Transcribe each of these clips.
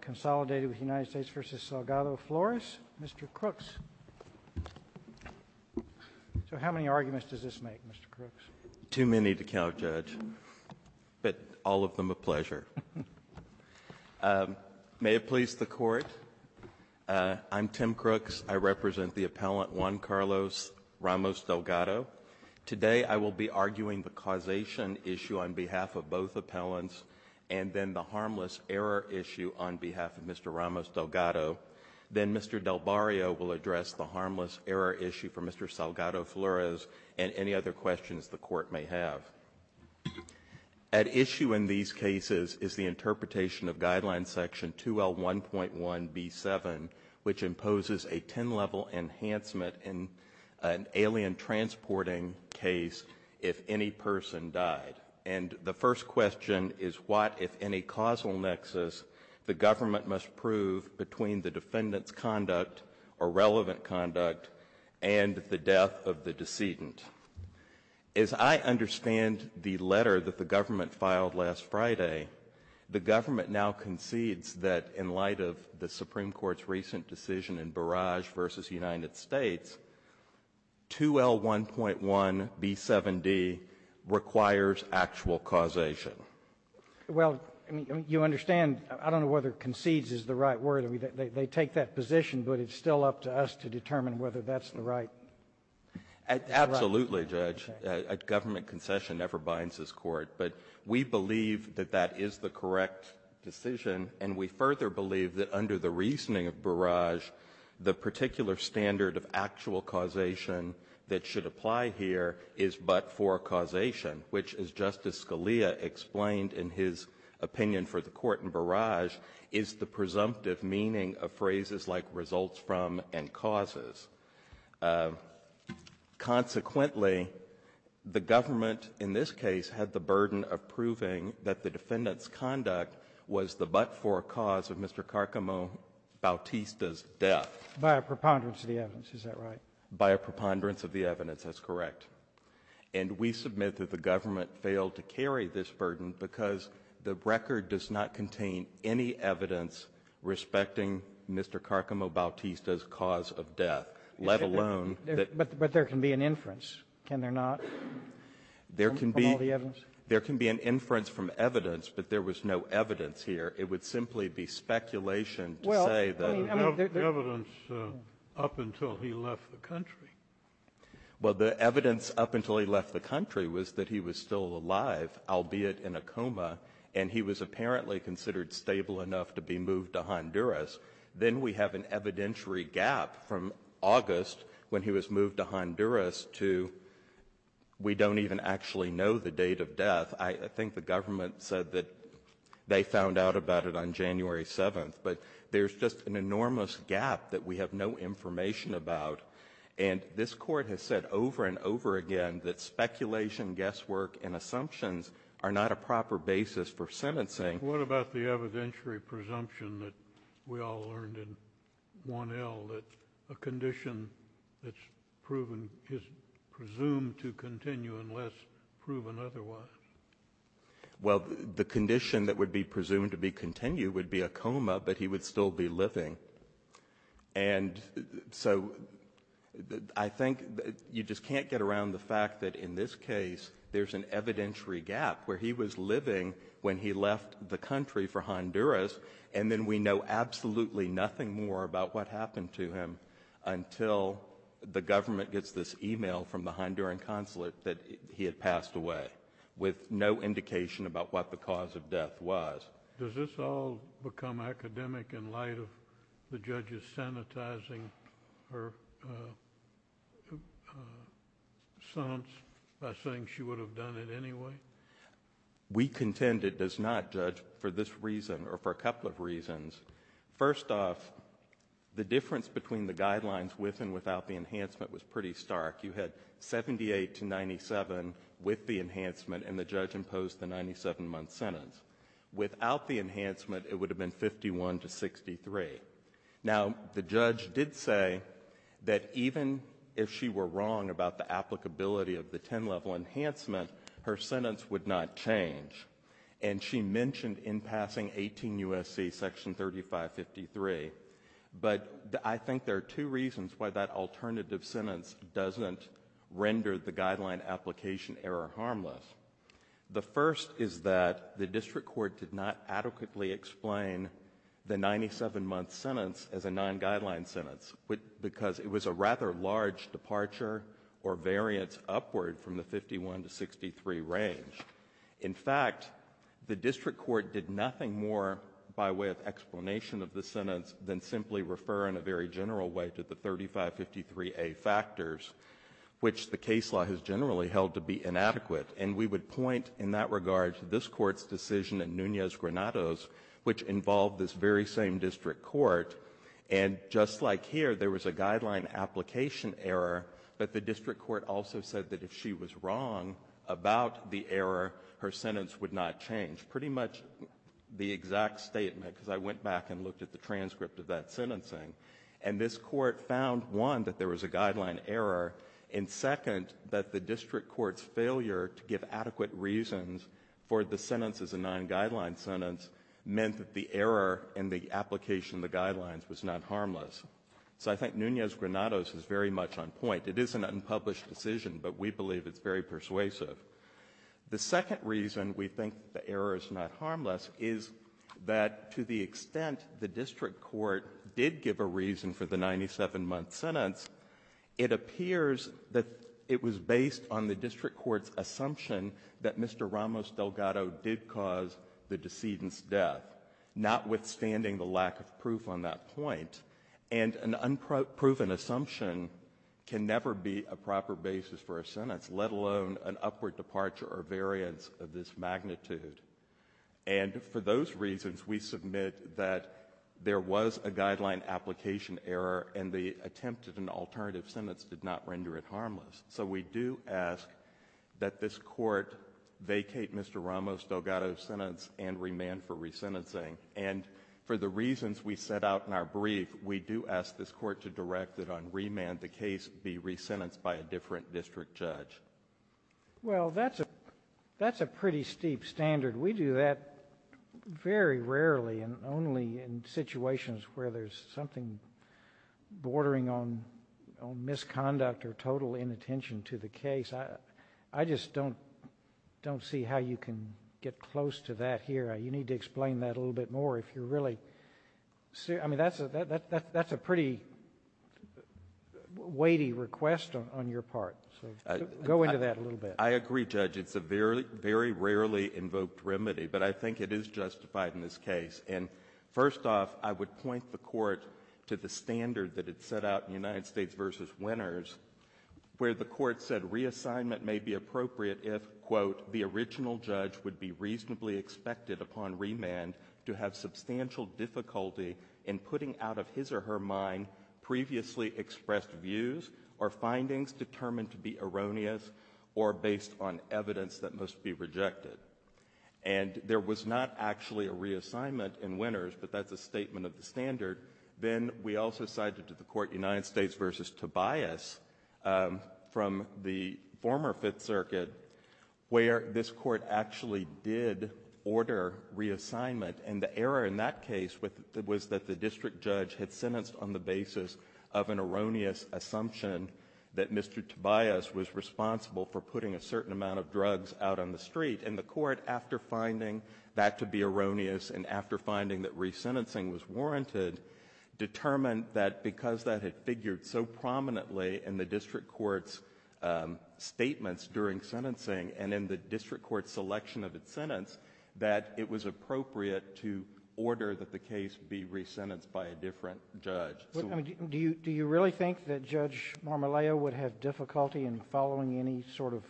consolidated with the United States v. Delgado-Flores. Mr. Crooks. So how many arguments does this make, Mr. Crooks? Crooks. Too many to count, Judge, but all of them a pleasure. May it please the Court, I'm Tim Crooks. I represent the appellant Juan Carlos Ramos-Delgado. Today, I will be arguing the causation issue on behalf of both appellants and then the harmless error issue on behalf of Mr. Ramos-Delgado. Then Mr. Delbario will address the harmless error issue for Mr. Salgado-Flores and any other questions the Court may have. At issue in these cases is the interpretation of Guideline Section 2L1.1B7, which imposes a 10-level enhancement in an alien transporting case if any person died. And the first question is what, if any, causal nexus the government must prove between the defendant's conduct or relevant conduct and the death of the decedent. As I understand the letter that the government filed last Friday, the government now concedes that in light of the Supreme Court's recent decision in Barrage v. United States, 2L1.1B7D requires actual causation. Well, you understand, I don't know whether concedes is the right word. They take that position, but it's still up to us to determine whether that's the right thing to say. Absolutely, Judge. A government concession never binds this Court. But we believe that that is the correct decision, and we further believe that under the reasoning of Barrage, the particular standard of actual causation that should apply here is but for causation, which, as Justice Scalia explained in his opinion for the Court in Barrage, is the presumptive meaning of phrases like results from and causes. Consequently, the government in this case had the burden of proving that the defendant's conduct was the but-for cause of Mr. Carcamo-Bautista's death. By a preponderance of the evidence. Is that right? By a preponderance of the evidence. That's correct. And we submit that the government failed to carry this burden because the record does not contain any evidence respecting Mr. Carcamo-Bautista's cause of death, let alone that the ---- But there can be an inference, can there not, from all the evidence? There can be an inference from evidence, but there was no evidence here. It would simply be speculation to say that ---- Well, I mean, there's no evidence up until he left the country. Well, the evidence up until he left the country was that he was still alive, albeit in a coma, and he was apparently considered stable enough to be moved to Honduras. Then we have an evidentiary gap from August when he was moved to Honduras to we don't even actually know the date of death. I think the government said that they found out about it on January 7th. But there's just an enormous gap that we have no information about. And this Court has said over and over again that speculation, guesswork, and assumptions are not a proper basis for sentencing. What about the evidentiary presumption that we all learned in 1L, that a condition that's proven is presumed to continue unless proven otherwise? Well, the condition that would be presumed to be continued would be a coma, but he would still be living. And so I think you just can't get around the fact that in this case there's an evidentiary gap where he was living when he left the country for Honduras, and then we know absolutely nothing more about what happened to him until the government gets this email from the Honduran consulate that he had passed away with no indication about what the cause of death was. Does this all become academic in light of the judges sanitizing her sons by saying she would have done it anyway? We contend it does not, Judge, for this reason or for a couple of reasons. First off, the difference between the guidelines with and without the enhancement was pretty stark. You had 78 to 97 with the enhancement, and the judge imposed the 97-month sentence. Without the enhancement, it would have been 51 to 63. Now the judge did say that even if she were wrong about the applicability of the 10-level enhancement, her sentence would not change. And she mentioned in passing 18 U.S.C. section 3553, but I think there are two reasons why that alternative sentence doesn't render the guideline application error harmless. The first is that the district court did not adequately explain the 97-month sentence as a non-guideline sentence, because it was a rather large departure or variance upward from the 51 to 63 range. In fact, the district court did nothing more by way of explanation of the sentence than simply refer in a very general way to the 3553A factors, which the case law has generally held to be inadequate. And we would point in that regard to this Court's decision in Nunez-Granados, which involved this very same district court. And just like here, there was a guideline application error, but the district court also said that if she was wrong about the error, her sentence would not change. Pretty much the exact statement, because I went back and looked at the transcript of that sentencing, and this Court found, one, that there was a guideline error, and second, that the district court's failure to give adequate reasons for the sentence as a non-guideline sentence meant that the error in the application of the guidelines was not harmless. So I think Nunez-Granados is very much on point. It is an unpublished decision, but we believe it's very persuasive. The second reason we think the error is not harmless is that to the extent the district court did give a reason for the 97-month sentence, it appears that it was based on the district court's assumption that Mr. Ramos-Delgado did cause the decedent's death, notwithstanding the lack of proof on that point. And an unproven assumption can never be a proper basis for a sentence, let alone an upward departure or variance of this magnitude. And for those reasons, we submit that there was a guideline application error, and the attempt at an alternative sentence did not render it harmless. So we do ask that this Court vacate Mr. Ramos-Delgado's sentence and remand for a different district judge. Well, that's a pretty steep standard. We do that very rarely and only in situations where there's something bordering on misconduct or total inattention to the case. I just don't see how you can get close to that here. You need to explain that a little bit more if you're really serious. I mean, that's a pretty weighty request on your part, so go into that a little bit. I agree, Judge. It's a very rarely invoked remedy, but I think it is justified in this case. And first off, I would point the Court to the standard that it set out in United States v. Winners, where the Court said reassignment may be appropriate if, quote, the original judge would be reasonably expected upon remand to have substantial difficulty in putting out of his or her mind previously expressed views or findings determined to be erroneous or based on evidence that must be rejected. And there was not actually a reassignment in Winners, but that's a statement of the standard. Then we also cited to the Court United States v. Tobias from the former Fifth Circuit, where this Court actually did order reassignment. And the error in that case was that the district judge had sentenced on the basis of an erroneous assumption that Mr. Tobias was responsible for putting a certain amount of drugs out on the street. And the Court, after finding that to be erroneous and after finding that resentencing was warranted, determined that because that had figured so prominently in the district court's statements during sentencing and in the district court's selection of its sentence, that it was appropriate to order that the case be resentenced by a different judge. So do you really think that Judge Marmoleo would have difficulty in following any sort of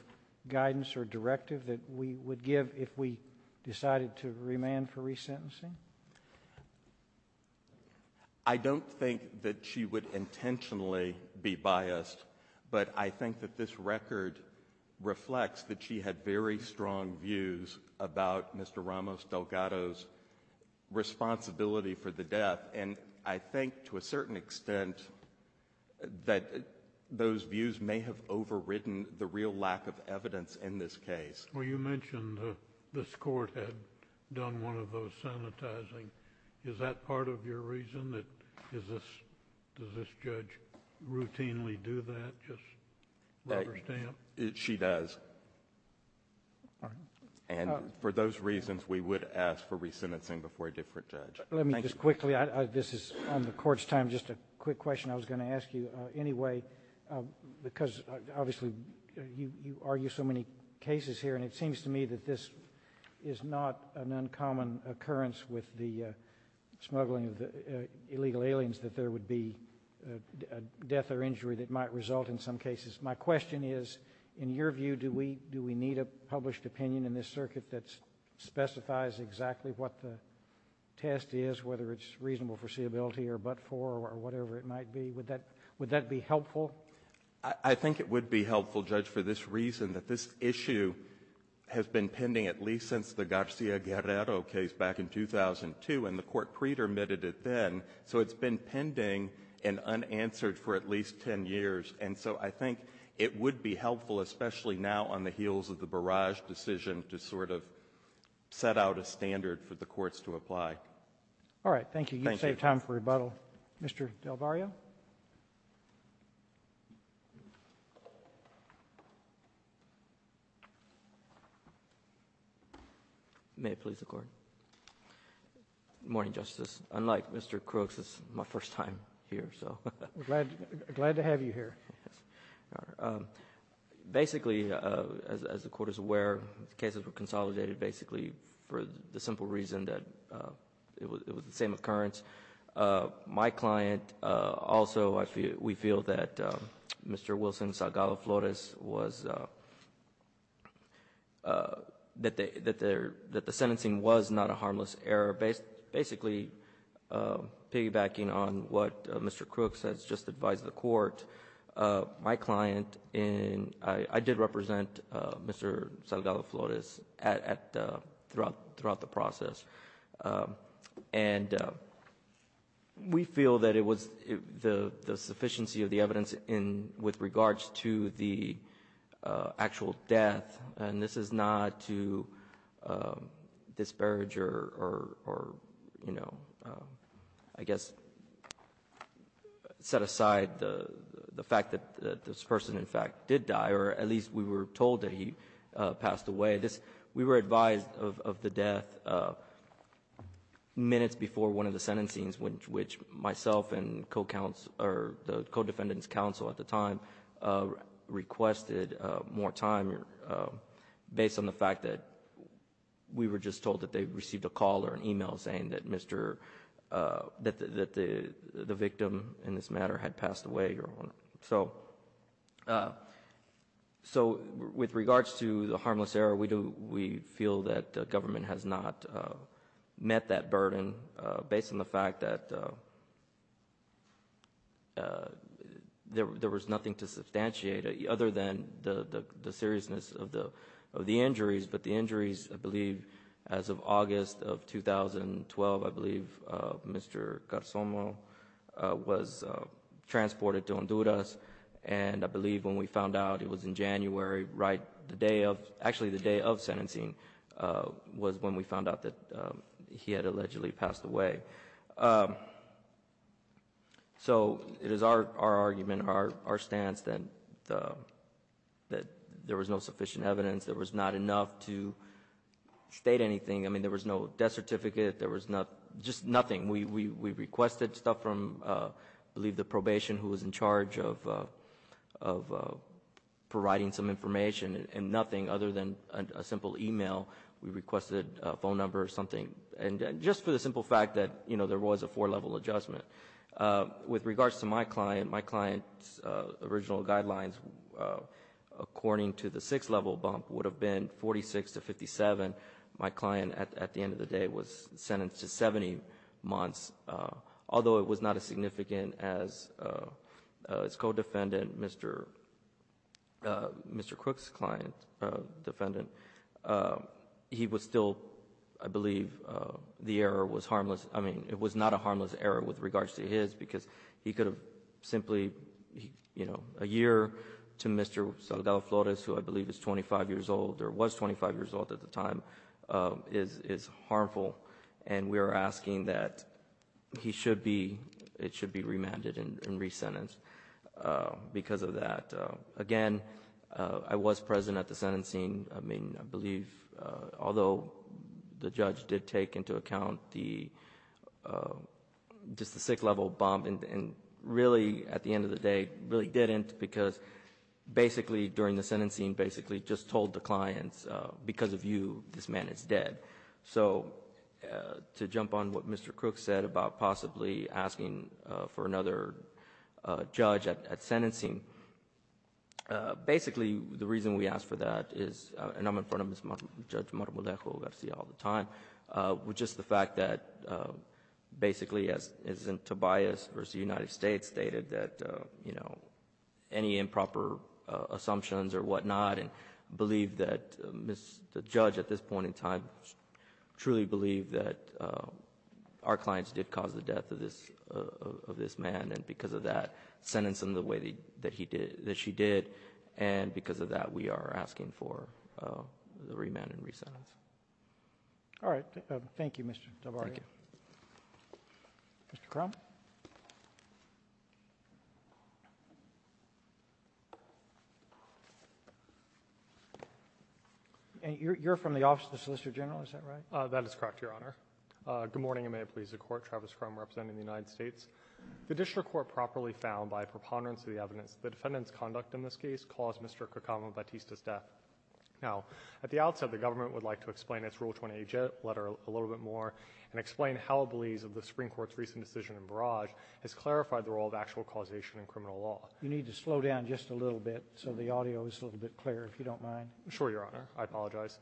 guidance or directive that we would give if we decided to remand for resentencing? I don't think that she would intentionally be biased, but I think that this record reflects that she had very strong views about Mr. Ramos Delgado's responsibility for the death. And I think to a certain extent that those views may have overridden the real lack of evidence in this case. Well, you mentioned this Court had done one of those sanitizing. Is that part of your reason that does this judge routinely do that, just rubber stamp? She does. And for those reasons, we would ask for resentencing before a different judge. Let me just quickly, this is on the Court's time, just a quick question I was going to ask. And it seems to me that this is not an uncommon occurrence with the smuggling of the illegal aliens, that there would be a death or injury that might result in some cases. My question is, in your view, do we need a published opinion in this circuit that specifies exactly what the test is, whether it's reasonable foreseeability or but-for or whatever it might be? Would that be helpful? I think it would be helpful, Judge, for this reason, that this issue has been pending at least since the Garcia-Guerrero case back in 2002, and the Court pre-dermitted it then. So it's been pending and unanswered for at least 10 years. And so I think it would be helpful, especially now on the heels of the Barrage decision, to sort of set out a standard for the courts to apply. All right. Thank you. You saved time for rebuttal. Thank you. Mr. Del Barrio. May it please the Court. Good morning, Justice. Unlike Mr. Crooks, it's my first time here. We're glad to have you here. Basically, as the Court is aware, the cases were consolidated basically for the same occurrence. My client also, we feel that Mr. Wilson Salgado-Flores was, that the sentencing was not a harmless error. Basically, piggybacking on what Mr. Crooks has just advised the Court, my client, I did represent Mr. Salgado-Flores throughout the process. And we feel that it was the sufficiency of the evidence with regards to the actual death, and this is not to disparage or, you know, I guess set aside the fact that this person, in fact, did die, or at least we were told that he passed away. This, we were advised of the death minutes before one of the sentencings, which myself and co-counsel, or the co-defendant's counsel at the time, requested more time based on the fact that we were just told that they received a call or an e-mail saying that Mr. — that the victim in this matter had passed away, Your Honor. So, with regards to the harmless error, we feel that the government has not met that burden based on the fact that there was nothing to substantiate other than the seriousness of the injuries, but the injuries, I believe, as of August of 2012, I believe Mr. Garzomo was transported to Honduras, and I believe when we found out it was in January, right, the day of — actually, the day of sentencing was when we found out that he had allegedly passed away. So, it is our argument, our stance, that there was no sufficient evidence, there was not enough to state anything. I mean, there was no death certificate, there was just nothing. We requested stuff from, I believe, the probation who was in charge of providing some information, and nothing other than a simple e-mail. We requested a phone number or something. And just for the simple fact that, you know, there was a four-level adjustment. With regards to my client, my client's original guidelines, according to the court, had been 46 to 57. My client, at the end of the day, was sentenced to 70 months. Although it was not as significant as his co-defendant, Mr. Crook's client, defendant, he was still, I believe, the error was harmless. I mean, it was not a harmless error with regards to his because he could have simply, you know, a year to Mr. Salgado-Flores, who I believe is 25 years old or was 25 years old at the time, is harmful. And we are asking that he should be, it should be remanded and resentenced because of that. Again, I was present at the sentencing. I mean, I believe, although the judge did take into account the, just the six-level bump and really, at the end of the day, really didn't because basically during the sentencing basically just told the clients, because of you, this man is dead. So to jump on what Mr. Crook said about possibly asking for another judge at sentencing, basically the reason we asked for that is, and I'm in front of Judge Marmolejo who I see all the time, was just the fact that basically, as is in Tobias v. United States, stated that, you know, any improper assumptions or whatnot and believe that the judge at this point in time truly believed that our clients did cause the death of this man, and because of that, sentenced him the way that he did, that she did, and because of that, we are asking for the remand and resentence. All right. Thank you, Mr. Tabari. Thank you. Mr. Crum. You're from the Office of the Solicitor General, is that right? That is correct, Your Honor. Good morning, and may it please the Court. Travis Crum representing the United States. The district court properly found by preponderance of the evidence the defendant's conduct in this case caused Mr. Cucamonga-Batista's death. Now, at the outset, the government would like to explain its Rule 28J letter a little bit more and explain how it believes that the Supreme Court's recent decision in Barrage has clarified the role of actual causation in criminal law. You need to slow down just a little bit so the audio is a little bit clearer, if you don't mind. Sure, Your Honor. I apologize.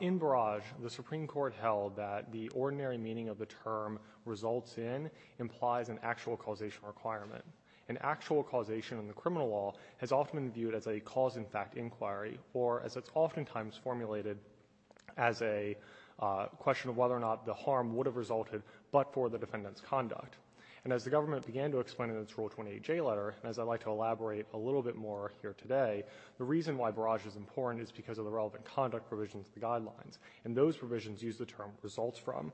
In Barrage, the Supreme Court held that the ordinary meaning of the term results in implies an actual causation requirement. An actual causation in the criminal law has often been viewed as a cause-in-fact inquiry or as it's oftentimes formulated as a question of whether or not the harm would have resulted but for the defendant's conduct. And as the government began to explain in its Rule 28J letter, and as I'd like to elaborate a little bit more here today, the reason why Barrage is important is because of the relevant conduct provisions of the guidelines, and those provisions use the term results from.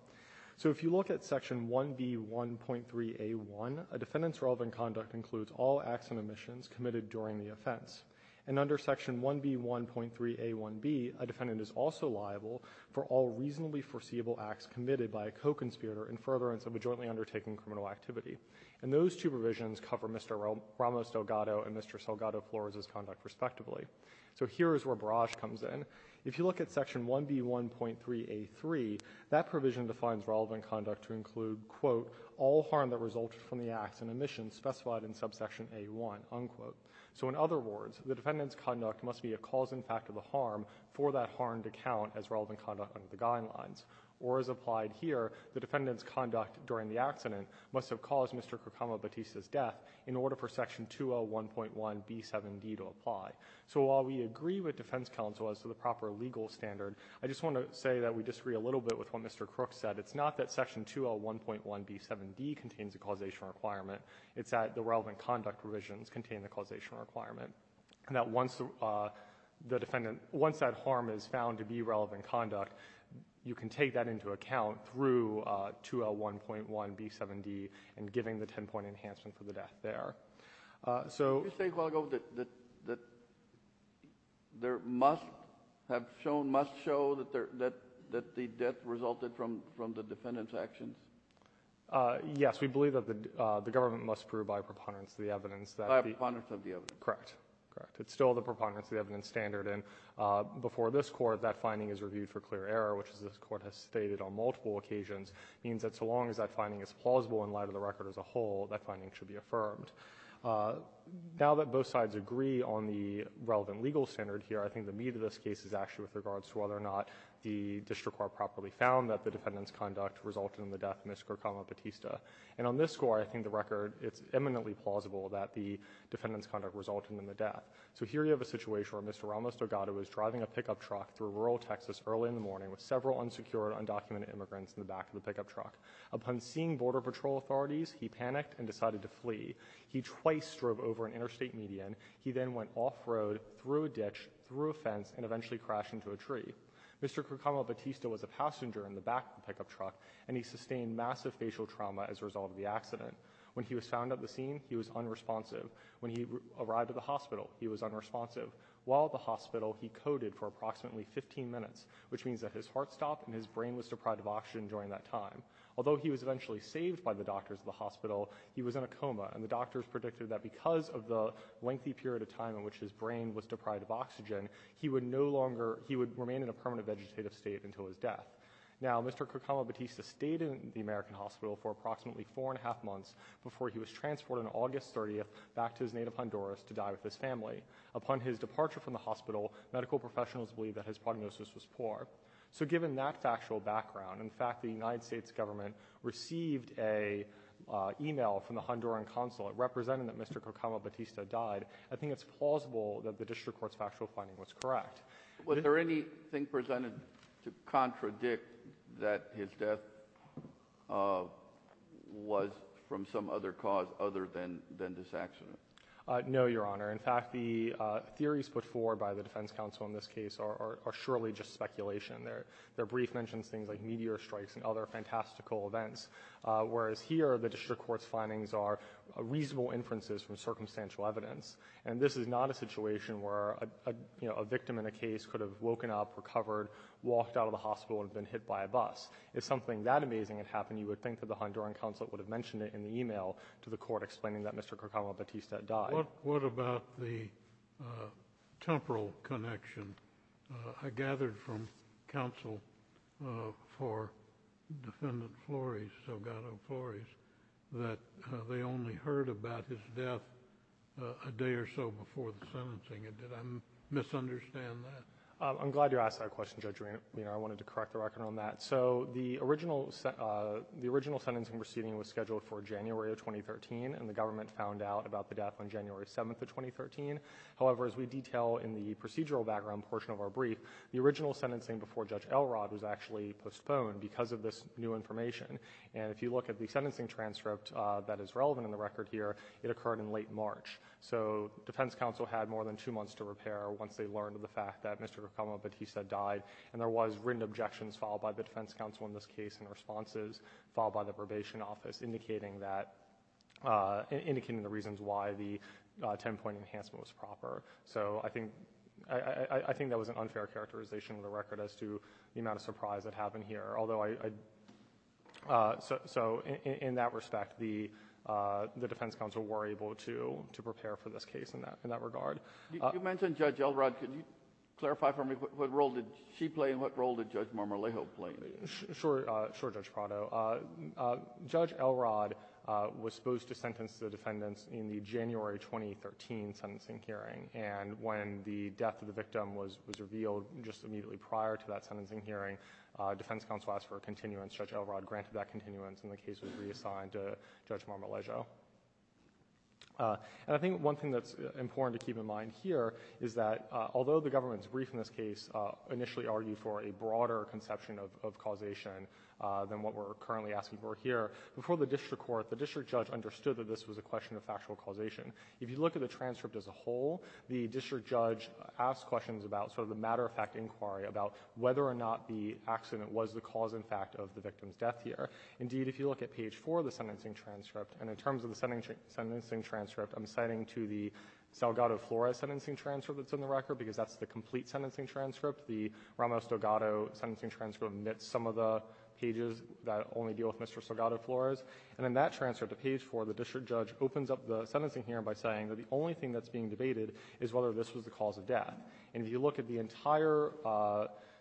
So if you look at Section 1B1.3a1, a defendant's relevant conduct includes all acts and omissions committed during the offense. And under Section 1B1.3a1b, a defendant is also liable for all reasonably foreseeable acts committed by a co-conspirator in furtherance of a jointly undertaken criminal activity. And those two provisions cover Mr. Ramos Delgado and Mr. Delgado Flores' conduct respectively. So here is where Barrage comes in. If you look at Section 1B1.3a3, that provision defines relevant conduct to include, quote, all harm that resulted from the acts and omissions specified in subsection a1, unquote. So in other words, the defendant's conduct must be a cause-in-fact of the harm for that harmed account as relevant conduct under the guidelines. Or as applied here, the defendant's conduct during the accident must have caused Mr. Krukama Batista's death in order for Section 201.1b7d to apply. So while we agree with defense counsel as to the proper legal standard, I just want to say that we disagree a little bit with what Mr. Kruk said. It's not that Section 201.1b7d contains a causation requirement. It's that the relevant conduct provisions contain the causation requirement. And that once the defendant — once that harm is found to be relevant conduct, you can take that into account through 201.1b7d and giving the ten-point enhancement for the death there. So — There must have shown — must show that the death resulted from the defendant's actions? Yes. We believe that the government must prove by preponderance of the evidence that the — By preponderance of the evidence. Correct. Correct. It's still the preponderance of the evidence standard. And before this Court, that finding is reviewed for clear error, which, as this Court has stated on multiple occasions, means that so long as that finding is plausible in light of the record as a whole, that finding should be affirmed. Now that both sides agree on the relevant legal standard here, I think the meat of this case is actually with regards to whether or not the district court properly found that the defendant's conduct resulted in the death of Ms. Gorkama Batista. And on this Court, I think the record — it's eminently plausible that the defendant's conduct resulted in the death. So here you have a situation where Mr. Ramos Delgado was driving a pickup truck through rural Texas early in the morning with several unsecured, undocumented immigrants in the back of the pickup truck. Upon seeing Border Patrol authorities, he panicked and decided to flee. He twice drove over an interstate median. He then went off-road, through a ditch, through a fence, and eventually crashed into a tree. Mr. Gorkama Batista was a passenger in the back of the pickup truck, and he sustained massive facial trauma as a result of the accident. When he was found at the scene, he was unresponsive. When he arrived at the hospital, he was unresponsive. While at the hospital, he coded for approximately 15 minutes, which means that his heart stopped and his brain was deprived of oxygen during that time. Although he was eventually saved by the doctors at the hospital, he was in a coma. And the doctors predicted that because of the lengthy period of time in which his brain was deprived of oxygen, he would no longer — he would remain in a permanent vegetative state until his death. Now, Mr. Gorkama Batista stayed in the American hospital for approximately four and a half months before he was transported on August 30th back to his native Honduras to die with his family. Upon his departure from the hospital, medical professionals believed that his prognosis was poor. So given that factual background — in fact, the United States government received an email from the Honduran consulate representing that Mr. Gorkama Batista died — I think it's plausible that the district court's factual finding was correct. Was there anything presented to contradict that his death was from some other cause other than this accident? No, Your Honor. In fact, the theories put forward by the defense counsel in this case are surely just speculation. Their brief mentions things like meteor strikes and other fantastical events, whereas here the district court's findings are reasonable inferences from circumstantial evidence. And this is not a situation where a victim in a case could have woken up, recovered, walked out of the hospital, and been hit by a bus. If something that amazing had happened, you would think that the Honduran consulate would have mentioned it in the email to the court explaining that Mr. Gorkama Batista died. What about the temporal connection? I gathered from counsel for Defendant Flores, Delgado Flores, that they only heard about his death a day or so before the sentencing. Did I misunderstand that? I'm glad you asked that question, Judge Rehner. I wanted to correct the record on that. So the original sentencing proceeding was scheduled for January of 2013, and the government found out about the death on January 7th of 2013. However, as we detail in the procedural background portion of our brief, the original sentencing before Judge Elrod was actually postponed because of this new information. And if you look at the sentencing transcript that is relevant in the record here, it occurred in late March. So defense counsel had more than two months to repair once they learned of the fact that Mr. Gorkama Batista died. And there was written objections filed by the defense counsel in this case and responses filed by the probation office indicating the reasons why the ten-point enhancement was proper. So I think that was an unfair characterization of the record as to the amount of surprise that happened here. So in that respect, the defense counsel were able to prepare for this case in that regard. You mentioned Judge Elrod. Could you clarify for me what role did she play and what role did Judge Marmolejo play? Sure, Judge Prado. Judge Elrod was supposed to sentence the defendants in the January 2013 sentencing hearing. And when the death of the victim was revealed just immediately prior to that sentencing hearing, defense counsel asked for a continuance. Judge Elrod granted that continuance and the case was reassigned to Judge Marmolejo. And I think one thing that's important to keep in mind here is that although the government's brief in this case initially argued for a broader conception of causation than what we're currently asking for here, before the district court, the district judge understood that this was a question of factual causation. If you look at the transcript as a whole, the district judge asked questions about sort of the matter-of-fact inquiry about whether or not the accident was the cause in fact of the victim's death here. Indeed, if you look at page 4 of the sentencing transcript, and in terms of the sentencing transcript, I'm citing to the Salgado-Flores sentencing transcript that's in the record because that's the complete sentencing transcript. The Ramos-Salgado sentencing transcript omits some of the pages that only deal with Mr. Salgado-Flores. And in that transcript, page 4, the district judge opens up the sentencing hearing by saying that the only thing that's being debated is whether this was the cause of death. And if you look at the entire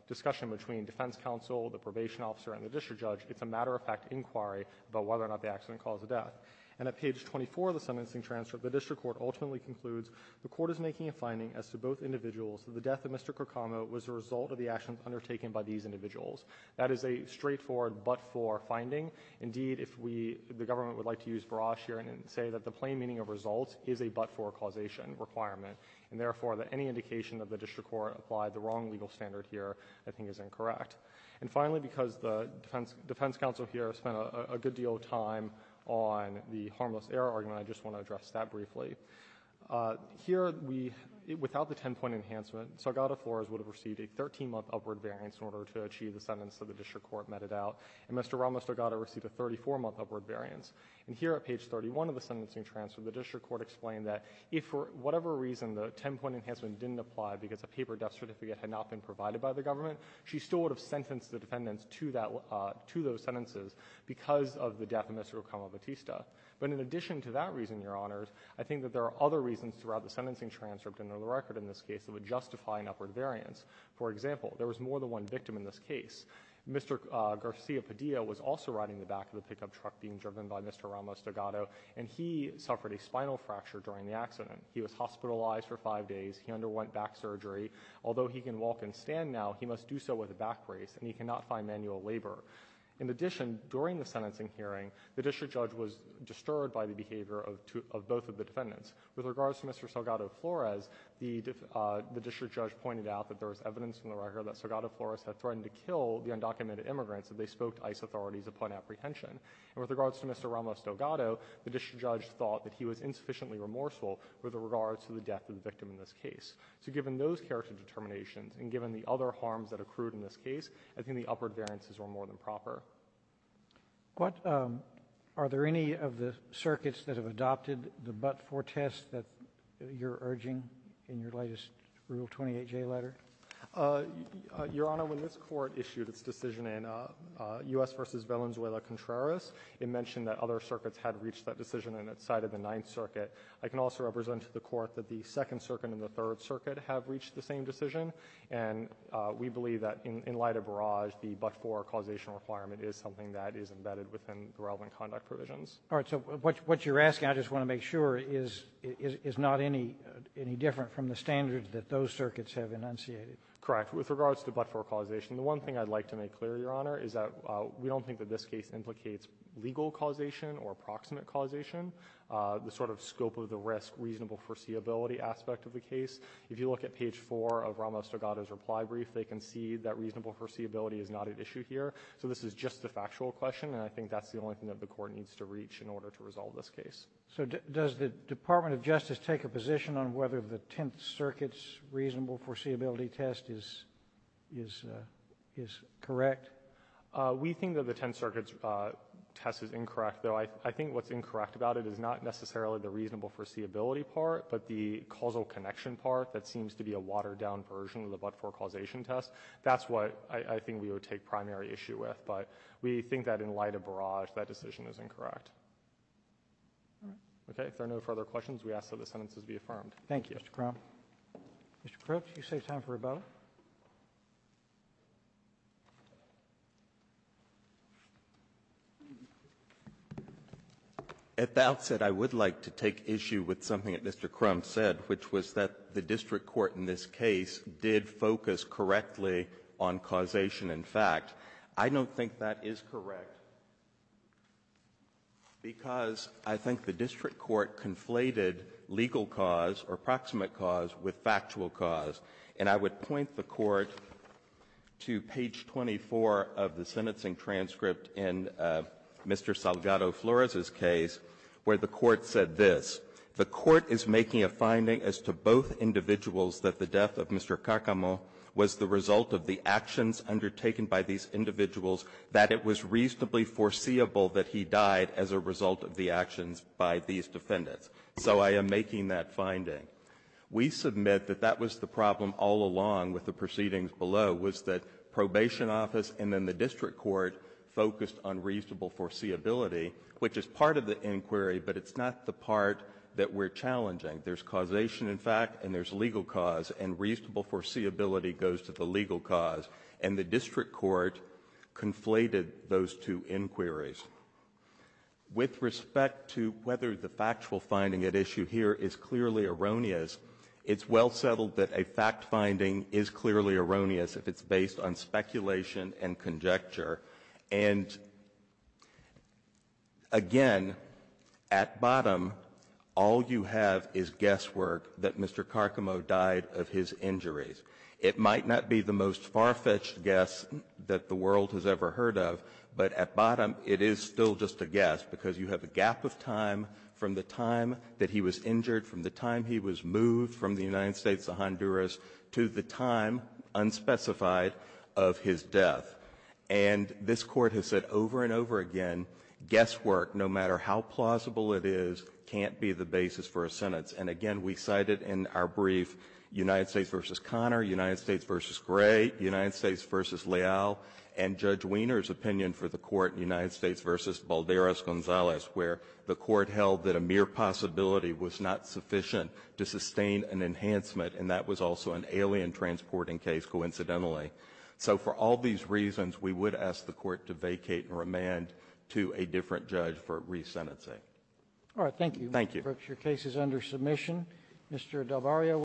discussion between defense counsel, the probation officer, and the district judge, it's a matter-of-fact inquiry about whether or not the accident caused the death. And at page 24 of the sentencing transcript, the district court ultimately concludes the court is making a finding as to both individuals that the death of Mr. Korkama was a result of the actions undertaken by these individuals. That is a straightforward but-for finding. Indeed, if we, the government would like to use barrage here and say that the plain meaning of result is a but-for causation requirement, and therefore that any indication of the district court applied the wrong legal standard here I think is incorrect. And finally, because the defense counsel here spent a good deal of time on the harmless error argument, I just want to address that briefly. Here we — without the 10-point enhancement, Salgado Flores would have received a 13-month upward variance in order to achieve the sentence that the district court meted out. And Mr. Ramos Salgado received a 34-month upward variance. And here at page 31 of the sentencing transcript, the district court explained that if for whatever reason the 10-point enhancement didn't apply because a paper death certificate had not been provided by the government, she still would have sentenced the defendants to that — to those sentences because of the death of Mr. Korkama Batista. But in addition to that reason, Your Honors, I think that there are other reasons throughout the sentencing transcript and under the record in this case that would justify an upward variance. For example, there was more than one victim in this case. Mr. Garcia Padilla was also riding the back of the pickup truck being driven by Mr. Ramos Salgado, and he suffered a spinal fracture during the accident. He was hospitalized for five days. He underwent back surgery. Although he can walk and stand now, he must do so with a back brace, and he cannot find manual labor. In addition, during the sentencing hearing, the district judge was disturbed by the behavior of both of the defendants. With regards to Mr. Salgado Flores, the district judge pointed out that there was evidence in the record that Salgado Flores had threatened to kill the undocumented immigrants if they spoke to ICE authorities upon apprehension. And with regards to Mr. Ramos Salgado, the district judge thought that he was insufficiently remorseful with regards to the death of the victim in this case. So given those character determinations and given the other harms that accrued in this case, I think it would be improper. What are there any of the circuits that have adopted the but-for test that you're urging in your latest Rule 28J letter? Your Honor, when this Court issued its decision in U.S. v. Valenzuela Contreras, it mentioned that other circuits had reached that decision in its side of the Ninth Circuit. I can also represent to the Court that the Second Circuit and the Third Circuit have reached the same decision, and we believe that in light of Barrage, the but-for causation requirement is something that is embedded within the relevant conduct provisions. All right. So what you're asking, I just want to make sure, is not any different from the standards that those circuits have enunciated. Correct. With regards to but-for causation, the one thing I'd like to make clear, Your Honor, is that we don't think that this case implicates legal causation or approximate causation. The sort of scope of the risk, reasonable foreseeability aspect of the case, if you look at page 4 of Ramos Salgado's reply brief, they concede that reasonable foreseeability is not a factor here. So this is just a factual question, and I think that's the only thing that the Court needs to reach in order to resolve this case. So does the Department of Justice take a position on whether the Tenth Circuit's reasonable foreseeability test is correct? We think that the Tenth Circuit's test is incorrect, though I think what's incorrect about it is not necessarily the reasonable foreseeability part, but the causal connection part that seems to be a watered-down version of the but-for causation test. That's what I think we would take primary issue with. But we think that in light of Barrage, that decision is incorrect. Okay. If there are no further questions, we ask that the sentences be affirmed. Thank you. Mr. Crump. Mr. Crooks, you save time for a vote. At the outset, I would like to take issue with something that Mr. Crump said, which was that the district court in this case did focus correctly on causation and fact. I don't think that is correct because I think the district court conflated legal cause or proximate cause with factual cause. And I would point the Court to page 24 of the sentencing transcript in Mr. Salgado Flores's case where the Court said this. The Court is making a finding as to both individuals that the death of Mr. Kakamo was the result of the actions undertaken by these individuals, that it was reasonably foreseeable that he died as a result of the actions by these defendants. So I am making that finding. We submit that that was the problem all along with the proceedings below, was that which is part of the inquiry, but it's not the part that we're challenging. There's causation in fact, and there's legal cause, and reasonable foreseeability goes to the legal cause. And the district court conflated those two inquiries. With respect to whether the factual finding at issue here is clearly erroneous, it's well settled that a fact finding is clearly erroneous if it's based on speculation and conjecture. And again, at bottom, all you have is guesswork that Mr. Kakamo died of his injuries. It might not be the most far-fetched guess that the world has ever heard of, but at bottom, it is still just a guess because you have a gap of time from the time that he was injured, from the time he was moved from the United States to Honduras to the time unspecified of his death. And this Court has said over and over again, guesswork, no matter how plausible it is, can't be the basis for a sentence. And again, we cited in our brief United States v. Conner, United States v. Gray, United States v. Leal, and Judge Wiener's opinion for the Court in United States v. Balderas-Gonzalez, where the Court held that a mere possibility was not sufficient to sustain an enhancement, and that was also an alien transporting case, coincidentally. So for all these reasons, we would ask the Court to vacate and remand to a different judge for re-sentencing. Roberts. Thank you. Brooks. Thank you. Your case is under submission. Mr. Del Barrio.